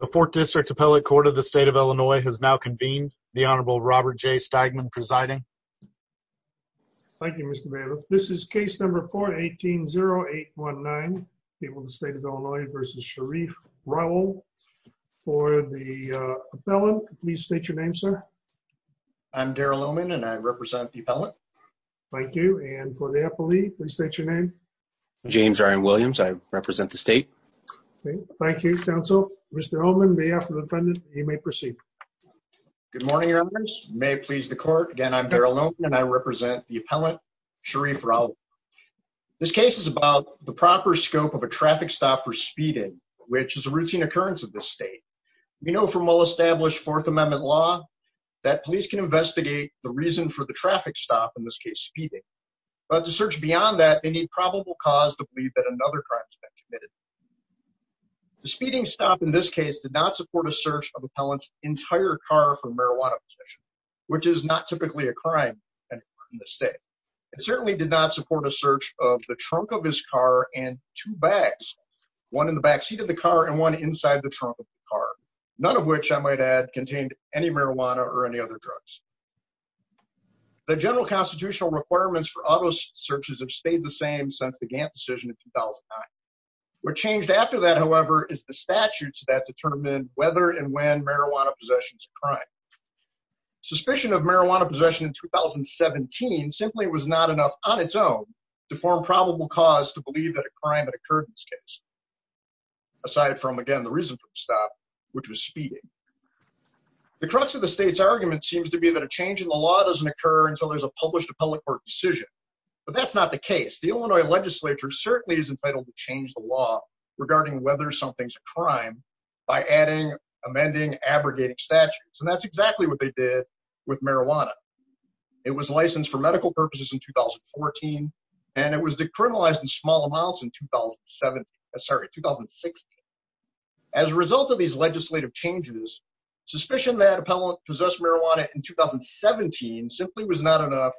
The Fourth District Appellate Court of the State of Illinois has now convened. The Honorable Robert J. Stegman presiding. Thank you, Mr. Mayor. This is case number 4-180819. People of the State of Illinois v. Sharif Rowell. For the appellant, please state your name, sir. I'm Daryl Omen, and I represent the appellant. Thank you. And for the appellee, please state your name. James Ryan Williams. I represent the state. Thank you, counsel. Mr. Omen, behalf of the defendant, you may proceed. Good morning, Your Honors. You may please the court. Again, I'm Daryl Omen, and I represent the appellant, Sharif Rowell. This case is about the proper scope of a traffic stop for speeding, which is a routine occurrence of this state. We know from well-established Fourth Amendment law that police can investigate the reason for the traffic stop, in this case, speeding. But to search beyond that, they need probable cause to believe that another crime has been committed. The speeding stop, in this case, did not support a search of the appellant's entire car for marijuana possession, which is not typically a crime in this state. It certainly did not support a search of the trunk of his car and two bags, one in the backseat of the car and one inside the trunk of the car, none of which, I might add, contained any marijuana or any other drugs. The general constitutional requirements for auto searches have stayed the same since the What changed after that, however, is the statutes that determine whether and when marijuana possession is a crime. Suspicion of marijuana possession in 2017 simply was not enough on its own to form probable cause to believe that a crime had occurred in this case, aside from, again, the reason for the stop, which was speeding. The crux of the state's argument seems to be that a change in the law doesn't occur until there's a published public court decision, but that's not the case. The Illinois legislature certainly is entitled to change the law regarding whether something's a crime by adding, amending, abrogating statutes, and that's exactly what they did with marijuana. It was licensed for medical purposes in 2014, and it was decriminalized in small amounts in 2016. As a result of these legislative changes, suspicion that an appellant possessed marijuana in 2017 simply was not enough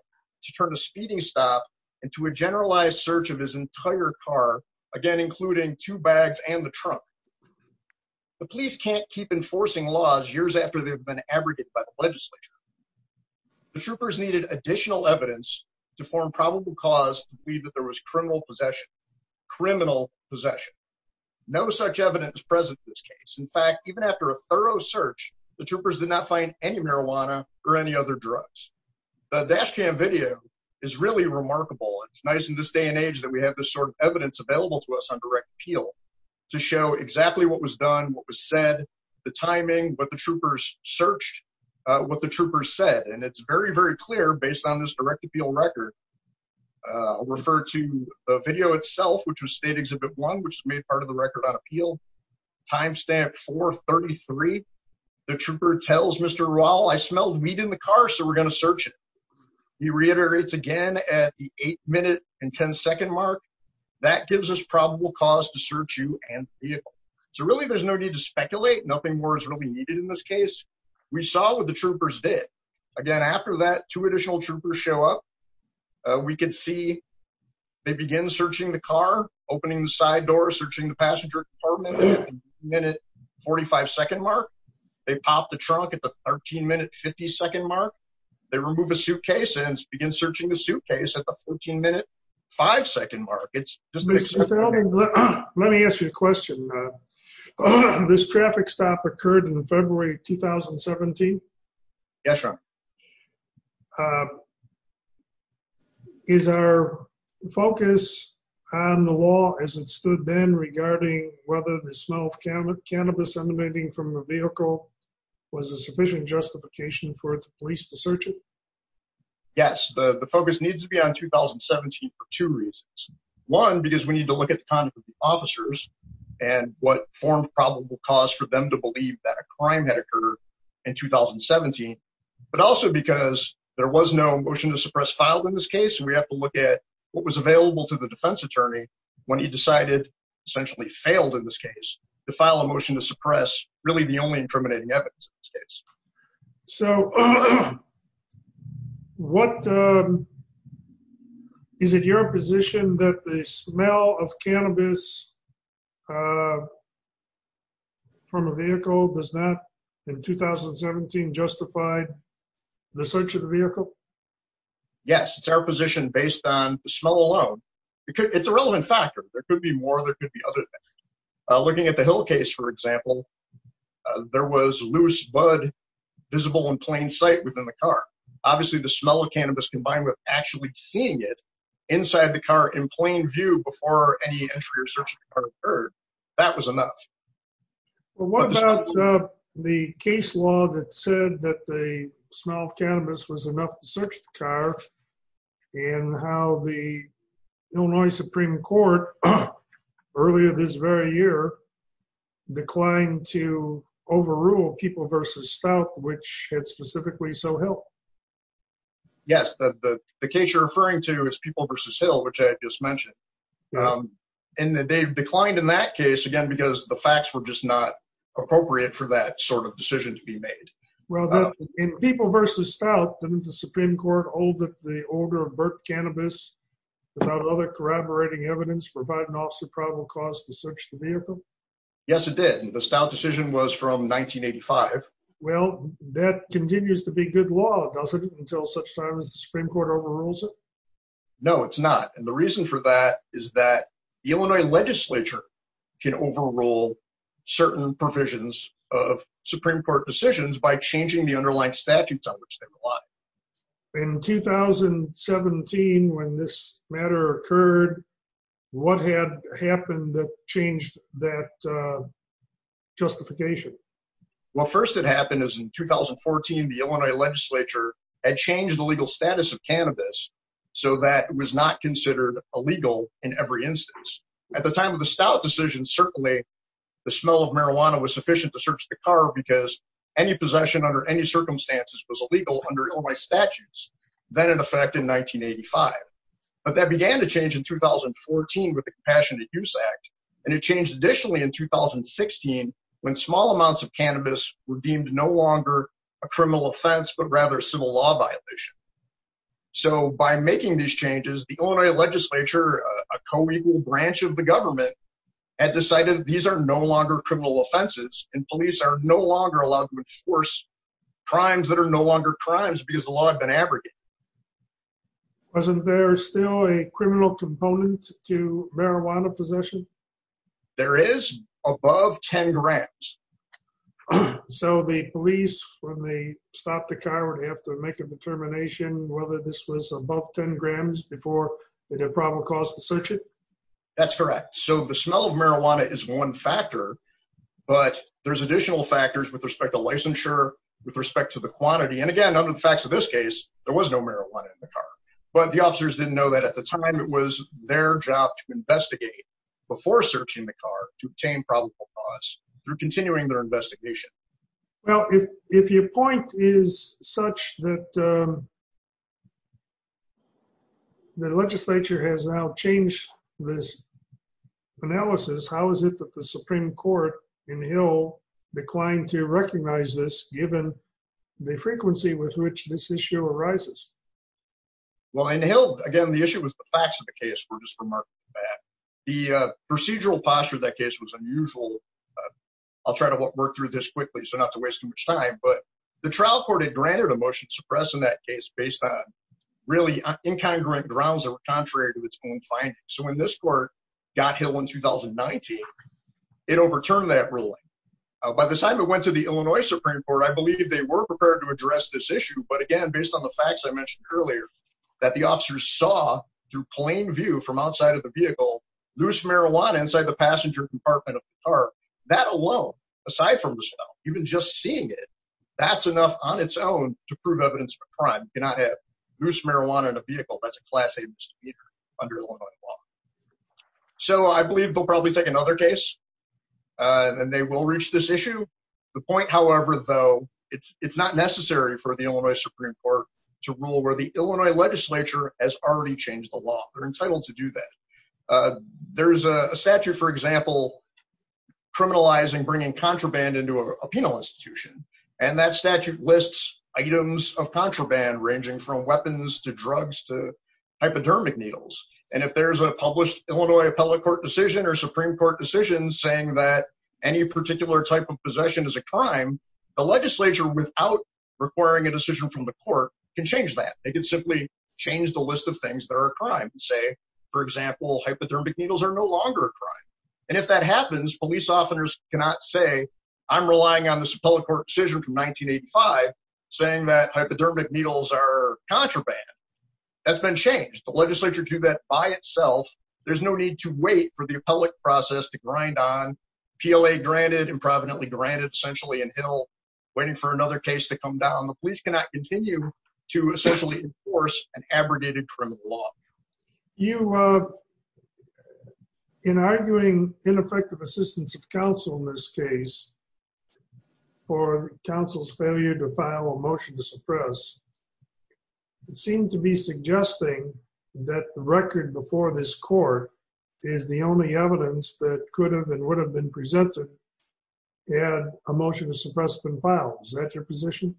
to turn a speeding stop into a generalized search of his entire car, again, including two bags and the trunk. The police can't keep enforcing laws years after they've been abrogated by the legislature. The troopers needed additional evidence to form probable cause to believe that there was criminal possession. Criminal possession. No such evidence present in this case. In fact, even after a thorough search, the troopers did not find any marijuana or any other drugs. The dash cam video is really remarkable. It's nice in this day and age that we have this sort of evidence available to us on direct appeal to show exactly what was done, what was said, the timing, what the troopers searched, what the troopers said, and it's very, very clear based on this direct appeal record. I'll refer to the video itself, which was state timestamp 433. The trooper tells Mr. Rall, I smelled weed in the car, so we're going to search it. He reiterates again at the 8 minute and 10 second mark. That gives us probable cause to search you and the vehicle. So really, there's no need to speculate. Nothing more is really needed in this case. We saw what the troopers did. Again, after that, two additional troopers show up. We can see they begin searching the car, opening the side door, searching the passenger compartment. Minute 45 second mark. They pop the trunk at the 13 minute 50 second mark. They remove a suitcase and begin searching the suitcase at the 14 minute five second mark. It's just... Let me ask you a question. This traffic stop occurred in February 2017. Yes, sir. Is our focus on the law as it stood then regarding whether the smell of cannabis emanating from the vehicle was a sufficient justification for the police to search it? Yes. The focus needs to be on 2017 for two reasons. One, because we need to look at the conduct of the officers and what formed probable cause for them to believe that a crime had occurred. Two, because there was no motion to suppress filed in this case. We have to look at what was available to the defense attorney when he decided, essentially failed in this case, to file a motion to suppress really the only incriminating evidence in this case. Is it your position that the smell of cannabis from a vehicle does not, in 2017, justified the search of the vehicle? Yes. It's our position based on the smell alone. It's a relevant factor. There could be more. There could be other things. Looking at the Hill case, for example, there was loose bud visible in plain sight within the car. Obviously, the smell of cannabis combined with actually seeing it inside the car in plain view before any entry or search of the car occurred, that was enough. What about the case law that said that the smell of cannabis was enough to search the car and how the Illinois Supreme Court, earlier this very year, declined to overrule People v. Stout, which had specifically so helped? Yes. The case you're referring to is People v. Hill, which I just mentioned. They've declined in that case, again, because the facts were just not appropriate for that sort of decision to be made. Well, in People v. Stout, didn't the Supreme Court hold that the order of burnt cannabis without other corroborating evidence provided an officer probable cause to search the vehicle? Yes, it did. The Stout decision was from 1985. Well, that continues to be good law, does it, until such time as the Supreme Court overrules it? No, it's not. The reason for that is that the Illinois legislature can overrule certain provisions of Supreme Court decisions by changing the underlying statutes on which they apply. In 2017, when this matter occurred, what had happened that changed that justification? Well, first, what happened is in 2014, the Illinois legislature had changed the legal status of cannabis so that it was not considered illegal in every instance. At the time of the Stout decision, certainly, the smell of marijuana was sufficient to search the car because any possession under any circumstances was illegal under Illinois statutes, then in effect in 1985. But that began to change in 2014 with the Compassionate Use Act, and it changed additionally in 2016 when small amounts of cannabis were deemed no longer a criminal offense, but rather a civil law violation. So by making these changes, the Illinois legislature, a co-equal branch of the government, had decided these are no longer criminal offenses and police are no longer allowed to enforce crimes that are no longer crimes because the law had been abrogated. Wasn't there still a criminal component to marijuana possession? There is, above 10 grams. So the police, when they stop the car, would have to make a determination whether this was above 10 grams before it had probably caused the search? That's correct. So the smell of marijuana is one factor, but there's additional factors with respect to licensure, with respect to the quantity. And again, under the facts of this case, there was no marijuana in the car, but the officers didn't know that at the time it was their job to investigate before searching the car to obtain probable cause through continuing their investigation. Well, if your point is such that the legislature has now changed this analysis, how is it that the Supreme Court in Hill declined to recognize this given the frequency with which this issue arises? Well, in Hill, again, the issue was the facts of the case were just remarkably bad. The procedural posture of that case was unusual. I'll try to work through this quickly so not to waste too much time, but the trial court had granted a motion suppressing that case based on really incongruent grounds that were contrary to its own findings. So when this court got Hill in 2019, it overturned that ruling. By the time it went to the Illinois Supreme Court, I believe they were prepared to the officers saw, through plain view from outside of the vehicle, loose marijuana inside the passenger compartment of the car. That alone, aside from the smell, even just seeing it, that's enough on its own to prove evidence of a crime. You cannot have loose marijuana in a vehicle. That's a class A misdemeanor under Illinois law. So I believe they'll probably take another case and they will reach this issue. The point, however, though, it's not necessary for the Illinois Supreme Court to rule where the Illinois legislature has already changed the law. They're entitled to do that. There's a statute, for example, criminalizing bringing contraband into a penal institution, and that statute lists items of contraband ranging from weapons to drugs to hypodermic needles. And if there's a published Illinois appellate court decision or Supreme Court decision saying that any particular type of possession is a crime, the legislature, without requiring a decision from the appellate court, can change that. They can simply change the list of things that are a crime and say, for example, hypodermic needles are no longer a crime. And if that happens, police offenders cannot say, I'm relying on this appellate court decision from 1985 saying that hypodermic needles are contraband. That's been changed. The legislature can do that by itself. There's no need to wait for the appellate process to grind on, PLA granted, improvidently granted, essentially, in Hill, waiting for another case to come down. The police cannot continue to essentially enforce an abrogated criminal law. You, in arguing ineffective assistance of counsel in this case, for counsel's failure to file a motion to suppress, it seemed to be suggesting that the record before this court is the only evidence that could have and would have been presented. And a motion to suppress has been filed. Is that your position?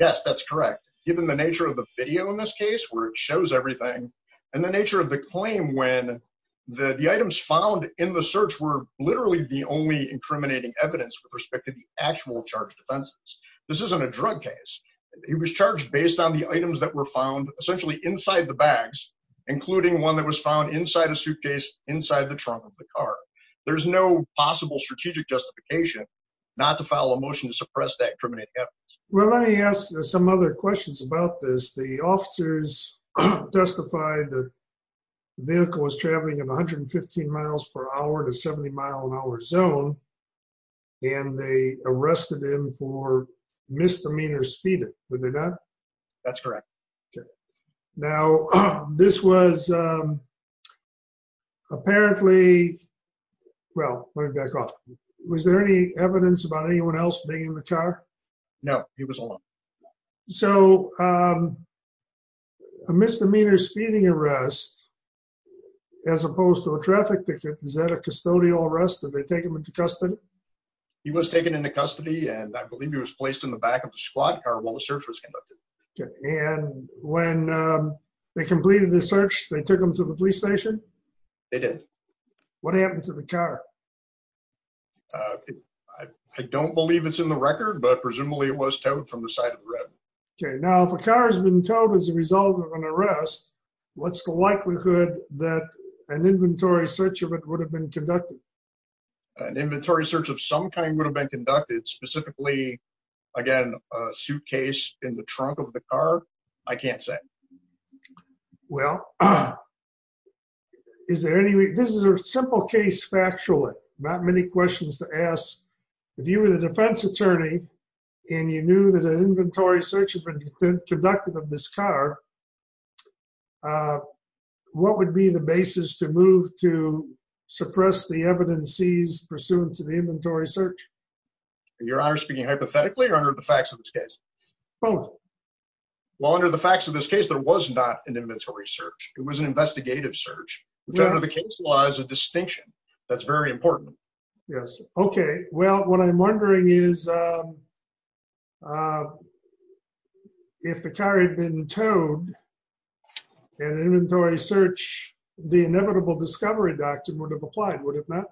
Yes, that's correct. Given the nature of the video in this case, where it shows everything, and the nature of the claim when the items found in the search were literally the only incriminating evidence with respect to the actual charged offenses. This isn't a drug case. It was charged based on the items that were found essentially inside the bags, including one that was found inside a suitcase, inside the trunk of the car. There's no possible strategic justification not to file a motion to suppress that incriminating evidence. Well, let me ask some other questions about this. The officers testified that the vehicle was traveling at 115 miles per hour in a 70 mile an hour zone, and they arrested him for misdemeanor speeding. Were they not? That's correct. Okay. Now, this was apparently, well, let me back off. Was there any evidence about anyone else being in the car? No, he was alone. So a misdemeanor speeding arrest, as opposed to a traffic ticket, is that a custodial arrest? Did they take him into custody? He was taken into custody, and I believe he was placed in the back of the squad car while the search was conducted. And when they completed the search, they took him to the police station? They did. What happened to the car? I don't believe it's in the record, but presumably it was towed from the side of the road. Okay. Now, if a car has been towed as a result of an arrest, what's the likelihood that an inventory search of it would have been conducted? An inventory search of some kind would have been conducted, specifically, again, a suitcase in the trunk of the car? I can't say. Well, this is a simple case, factually. Not many questions to ask. If you were the defense attorney and you knew that an inventory search had been conducted of this car, what would be the basis to move to suppress the evidences pursuant to the inventory search? Your Honor, speaking hypothetically or under the facts of this case? Both. Well, under the facts of this case, there was not an inventory search. It was an investigative search, which under the case law is a distinction. That's very important. Yes. Okay. Well, what I'm wondering is if the car had been towed, an inventory search, the inevitable discovery doctrine would have applied, would it not?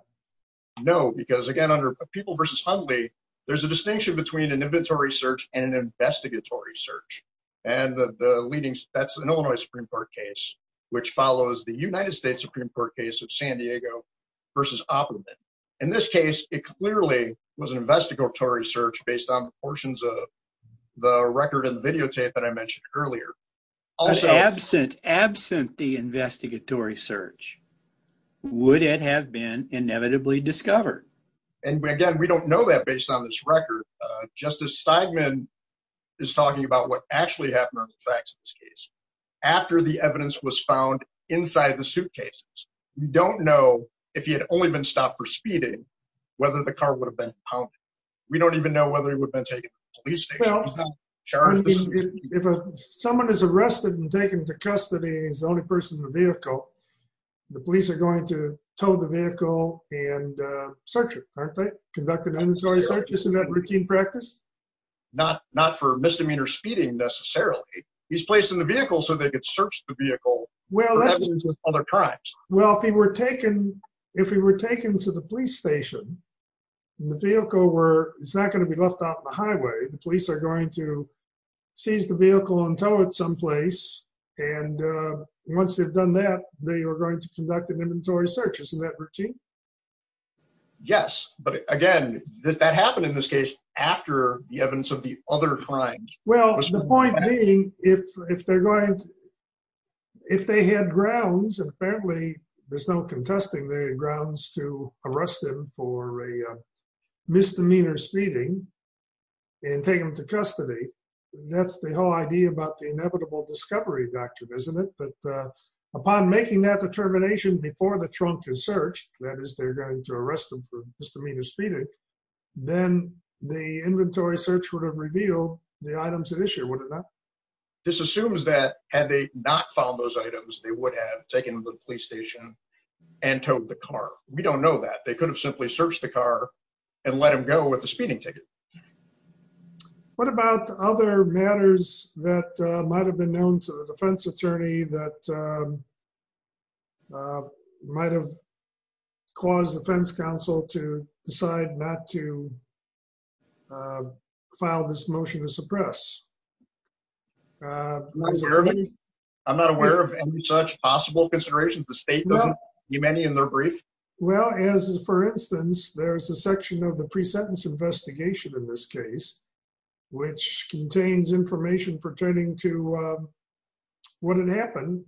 No, because again, under People v. Huntley, there's a distinction between an inventory search and an investigatory search. That's an Illinois Supreme Court case, which follows the United States Supreme Court case of San Diego v. Oppenheim. In this case, it clearly was an investigatory search based on portions of the record and videotape that I mentioned earlier. Absent the investigatory search, would it have been inevitably discovered? Again, we don't know that based on this record. Justice Steigman is talking about what actually happened under the facts of this case. After the evidence was found inside the suitcases, we don't know if he had only been stopped for speeding, whether the car would have been charged. If someone is arrested and taken to custody, he's the only person in the vehicle, the police are going to tow the vehicle and search it, aren't they? Conduct an inventory search. Isn't that routine practice? Not for misdemeanor speeding necessarily. He's placed in the vehicle so they could search the vehicle for evidence of other crimes. Well, if he were taken to the police station, the vehicle is not going to be left out on the sees the vehicle on tow at some place. Once they've done that, they are going to conduct an inventory search. Isn't that routine? Yes, but again, that happened in this case after the evidence of the other crimes. Well, the point being, if they had grounds, and apparently there's no contesting the grounds to arrest him for a misdemeanor speeding and take him to custody, that's the whole idea about the inevitable discovery doctrine, isn't it? But upon making that determination before the trunk is searched, that is they're going to arrest them for misdemeanor speeding, then the inventory search would have revealed the items of issue, would it not? This assumes that had they not found those items, they would have taken to the police station and towed the car. We don't know that. They could have simply searched the car and let him go with a speeding ticket. What about other matters that might have been known to the defense attorney that might have caused the defense counsel to decide not to file this motion to suppress? I'm not aware of any such possible considerations. The state doesn't give any in their brief. Well, as for instance, there's a section of the pre-sentence investigation in this case, which contains information pertaining to what had happened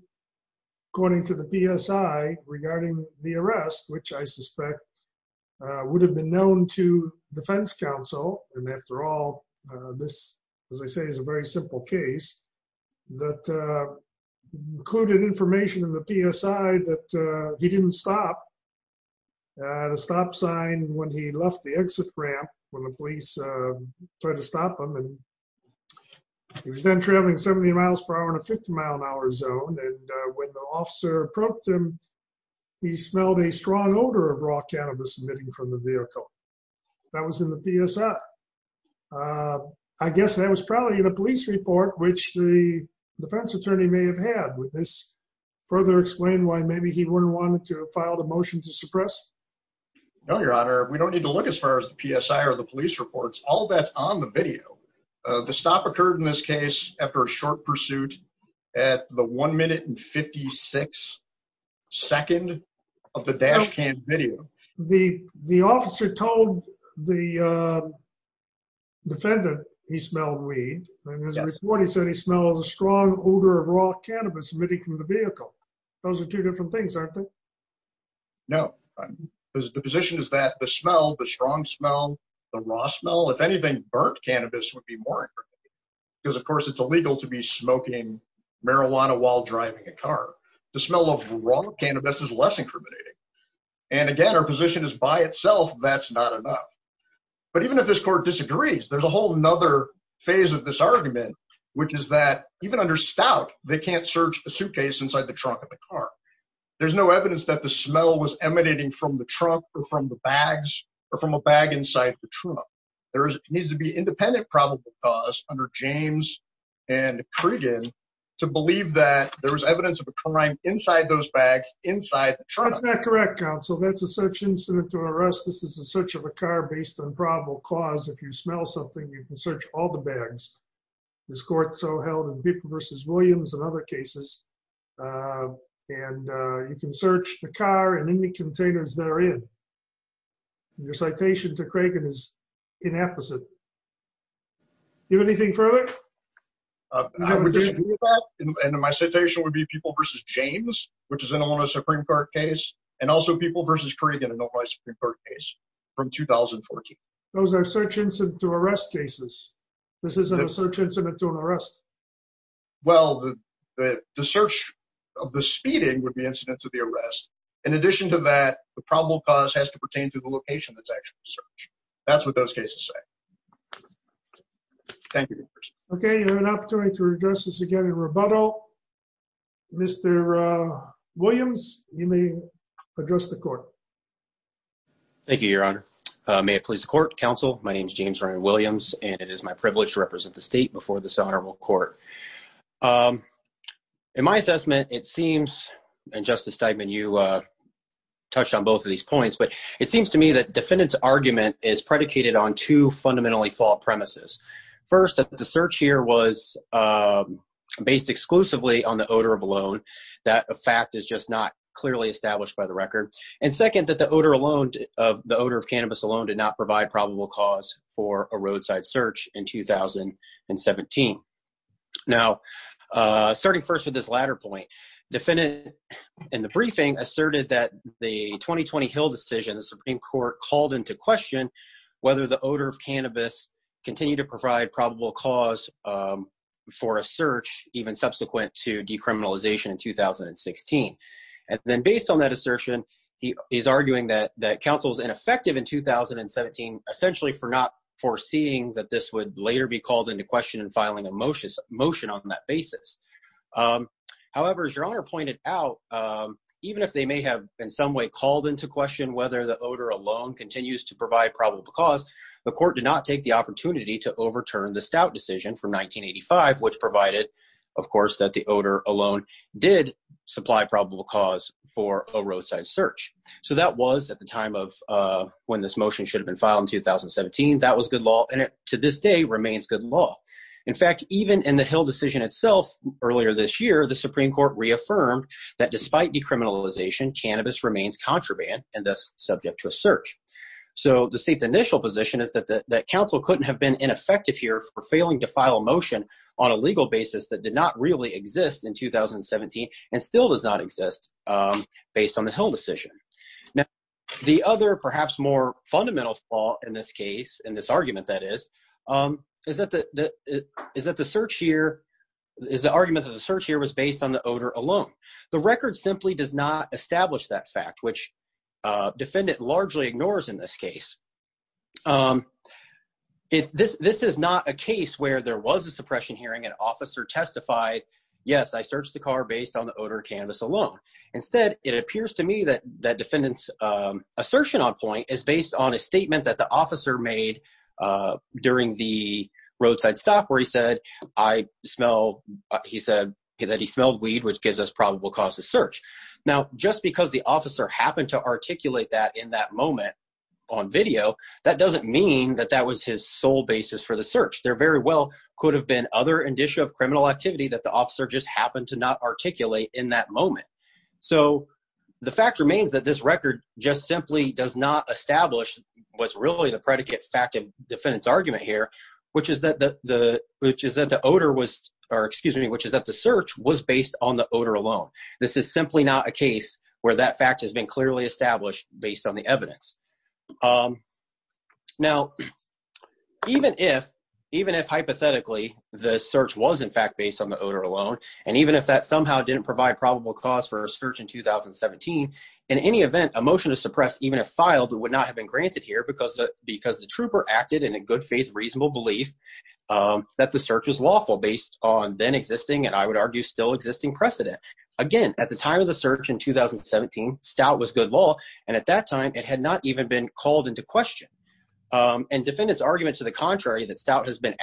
according to the PSI regarding the arrest, which I suspect would have been known to defense counsel. And after all, this, as I say, is a very simple case that included information in the PSI that he didn't stop at a stop sign when he left the exit ramp, when the police tried to stop him. And he was then traveling 70 miles per hour in a 50 mile an hour zone. And when the officer propped him, he smelled a strong odor of raw cannabis emitting from the vehicle. That was in the PSI. I guess that was probably in a police report, which the defense attorney may have had further explained why maybe he wouldn't want to file the motion to suppress. No, your honor, we don't need to look as far as the PSI or the police reports, all that's on the video. The stop occurred in this case after a short pursuit at the one minute and 56 second of the dash cam video. The officer told the defendant he smelled weed. And his strong odor of raw cannabis emitting from the vehicle. Those are two different things, aren't they? No, the position is that the smell, the strong smell, the raw smell, if anything, burnt cannabis would be more. Because of course, it's illegal to be smoking marijuana while driving a car. The smell of raw cannabis is less incriminating. And again, our position is by itself, that's not enough. But even if this court disagrees, there's a whole nother phase of this under stout, they can't search the suitcase inside the trunk of the car. There's no evidence that the smell was emanating from the trunk or from the bags or from a bag inside the trunk. There needs to be independent probable cause under James and Cregan to believe that there was evidence of a crime inside those bags inside the trunk. That's not correct, counsel. That's a search incident to arrest. This is a search of a car based on probable cause. If you smell something, you can search all the bags. This court so held in People v. Williams and other cases. And you can search the car and any containers that are in. Your citation to Cregan is inapposite. Do you have anything further? My citation would be People v. James, which is in a Supreme Court case, and also People v. Cregan, a normal Supreme Court case from 2014. Those are search incident to arrest cases. This isn't a search incident to an arrest. Well, the search of the speeding would be incident to the arrest. In addition to that, the probable cause has to pertain to the location that's actually searched. That's what those cases say. Thank you. Okay, you have an opportunity to address this again in rebuttal. Mr. Williams, you may address the court. Thank you, Your Honor. May it please the court, counsel. My name is James Ryan Williams, and it is my privilege to represent the state before this honorable court. In my assessment, it seems, and Justice Steigman, you touched on both of these points, but it seems to me that defendant's argument is predicated on two fundamentally flawed premises. First, that the search here was based exclusively on the odor of a loan. That fact is just not clearly established by the record. And second, that the odor of cannabis alone did not provide probable cause for a roadside search in 2017. Now, starting first with this latter point, defendant in the briefing asserted that the 2020 Hill decision, the Supreme Court called into question whether the odor of cannabis continued to provide probable cause for a search, even subsequent to decriminalization in 2016. And then based on that assertion, he is arguing that counsel's ineffective in 2017, essentially for not foreseeing that this would later be called into question and filing a motion on that basis. However, as Your Honor pointed out, even if they may have in some way called into question whether the odor alone continues to provide probable cause, the court did not take the opportunity to overturn the Stout decision from 1985, which provided, of course, that the odor alone did supply probable cause for a roadside search. So that was at the time of when this motion should have been filed in 2017. That was good law, and to this day remains good law. In fact, even in the Hill decision itself earlier this year, the Supreme Court reaffirmed that despite decriminalization, cannabis remains contraband, and thus subject to a search. So the state's initial position is that counsel couldn't have been ineffective here for failing to file a motion on a legal basis that did not really exist in 2017 and still does not exist based on the Hill decision. Now, the other perhaps more fundamental flaw in this case, in this argument that is, is that the search here, is the argument that the search here was based on the odor alone. The record simply does not establish that fact, which defendant largely ignores in this case. This is not a case where there was a suppression hearing, an officer testified, yes, I searched the car based on the odor of cannabis alone. Instead, it appears to me that that defendant's assertion on point is based on a statement that the officer made during the roadside stop, where he said, I smell, he said that he smelled weed, which gives us probable cause to search. Now, just because the officer happened to articulate that in that moment on video, that doesn't mean that that was his sole basis for the search. There very well could have been other indicia of criminal activity that the officer just happened to not articulate in that moment. So the fact remains that this record just simply does not establish what's really the predicate fact of defendant's argument here, which is that the odor was, or excuse me, which is that the search was based on the odor alone. This is simply not a case where that fact has been clearly established based on the evidence. Now, even if hypothetically the search was in fact based on the odor alone, and even if that somehow didn't provide probable cause for a search in 2017, in any event, a motion to suppress even if filed would not have been granted here because the trooper acted in a good faith reasonable belief that the search was lawful based on then existing, and I would argue still existing precedent. Again, at the time of the search in 2017, stout was good law, and at that time it had not even been called into question. And defendant's argument to the contrary that stout has been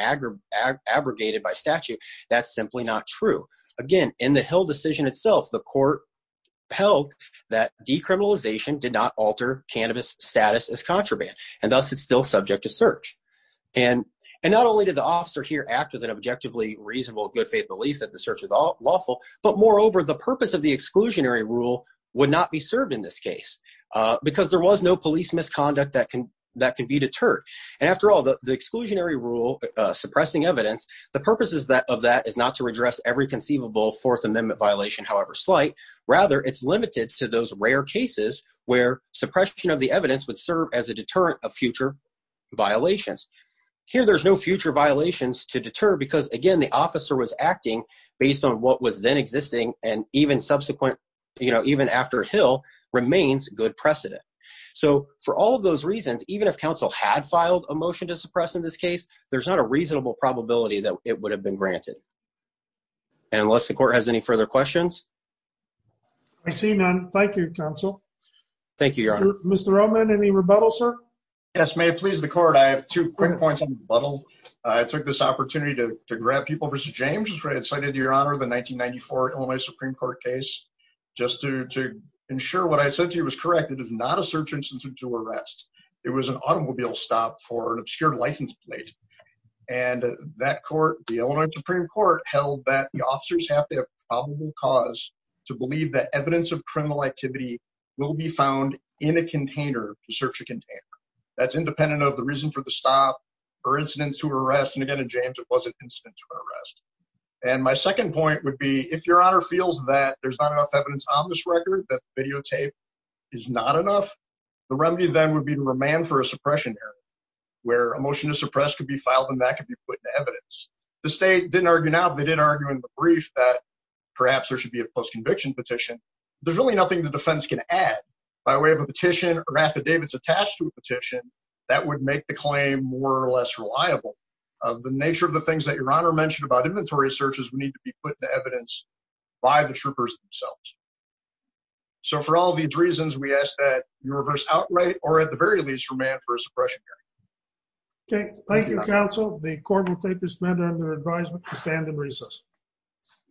abrogated by statute, that's simply not true. Again, in the Hill decision itself, the court held that decriminalization did not alter cannabis status as contraband, and thus it's still subject to search. And not only did the reasonable good faith belief that the search was lawful, but moreover the purpose of the exclusionary rule would not be served in this case, because there was no police misconduct that can be deterred. And after all, the exclusionary rule suppressing evidence, the purpose of that is not to redress every conceivable fourth amendment violation, however slight, rather it's limited to those rare cases where suppression of the evidence would serve as a deterrent of future violations. Here there's no future violations to deter because again, the officer was acting based on what was then existing and even subsequent, even after Hill remains good precedent. So for all of those reasons, even if council had filed a motion to suppress in this case, there's not a reasonable probability that it would have been granted. And unless the court has any further questions. I see none. Thank you, counsel. Thank you, your honor. Mr. Ullman, any rebuttal, sir? Yes, may it please the court, I have two quick points on rebuttal. I took this opportunity to grab people versus James is where I had cited your honor, the 1994 Illinois Supreme Court case, just to ensure what I said to you was correct. It is not a search instance into arrest. It was an automobile stop for an obscure license plate. And that court, the Illinois Supreme Court held that the officers have a probable cause to believe that evidence of criminal activity will be found in a container to search a container that's independent of the reason for the stop or incidents to arrest. And again, in James, it wasn't incident to arrest. And my second point would be if your honor feels that there's not enough evidence on this record, that videotape is not enough, the remedy then would be to remand for a suppression error, where a motion to suppress could be filed and that could be put in evidence. The state didn't argue now, but they did argue in the brief that perhaps there should be a post conviction petition. There's really nothing the defense can add by way of a petition or reliable. The nature of the things that your honor mentioned about inventory searches, we need to be put into evidence by the troopers themselves. So for all of these reasons, we ask that you reverse outright or at the very least remand for a suppression error. Okay. Thank you, counsel. The court will take this matter under advisement to stand in recess.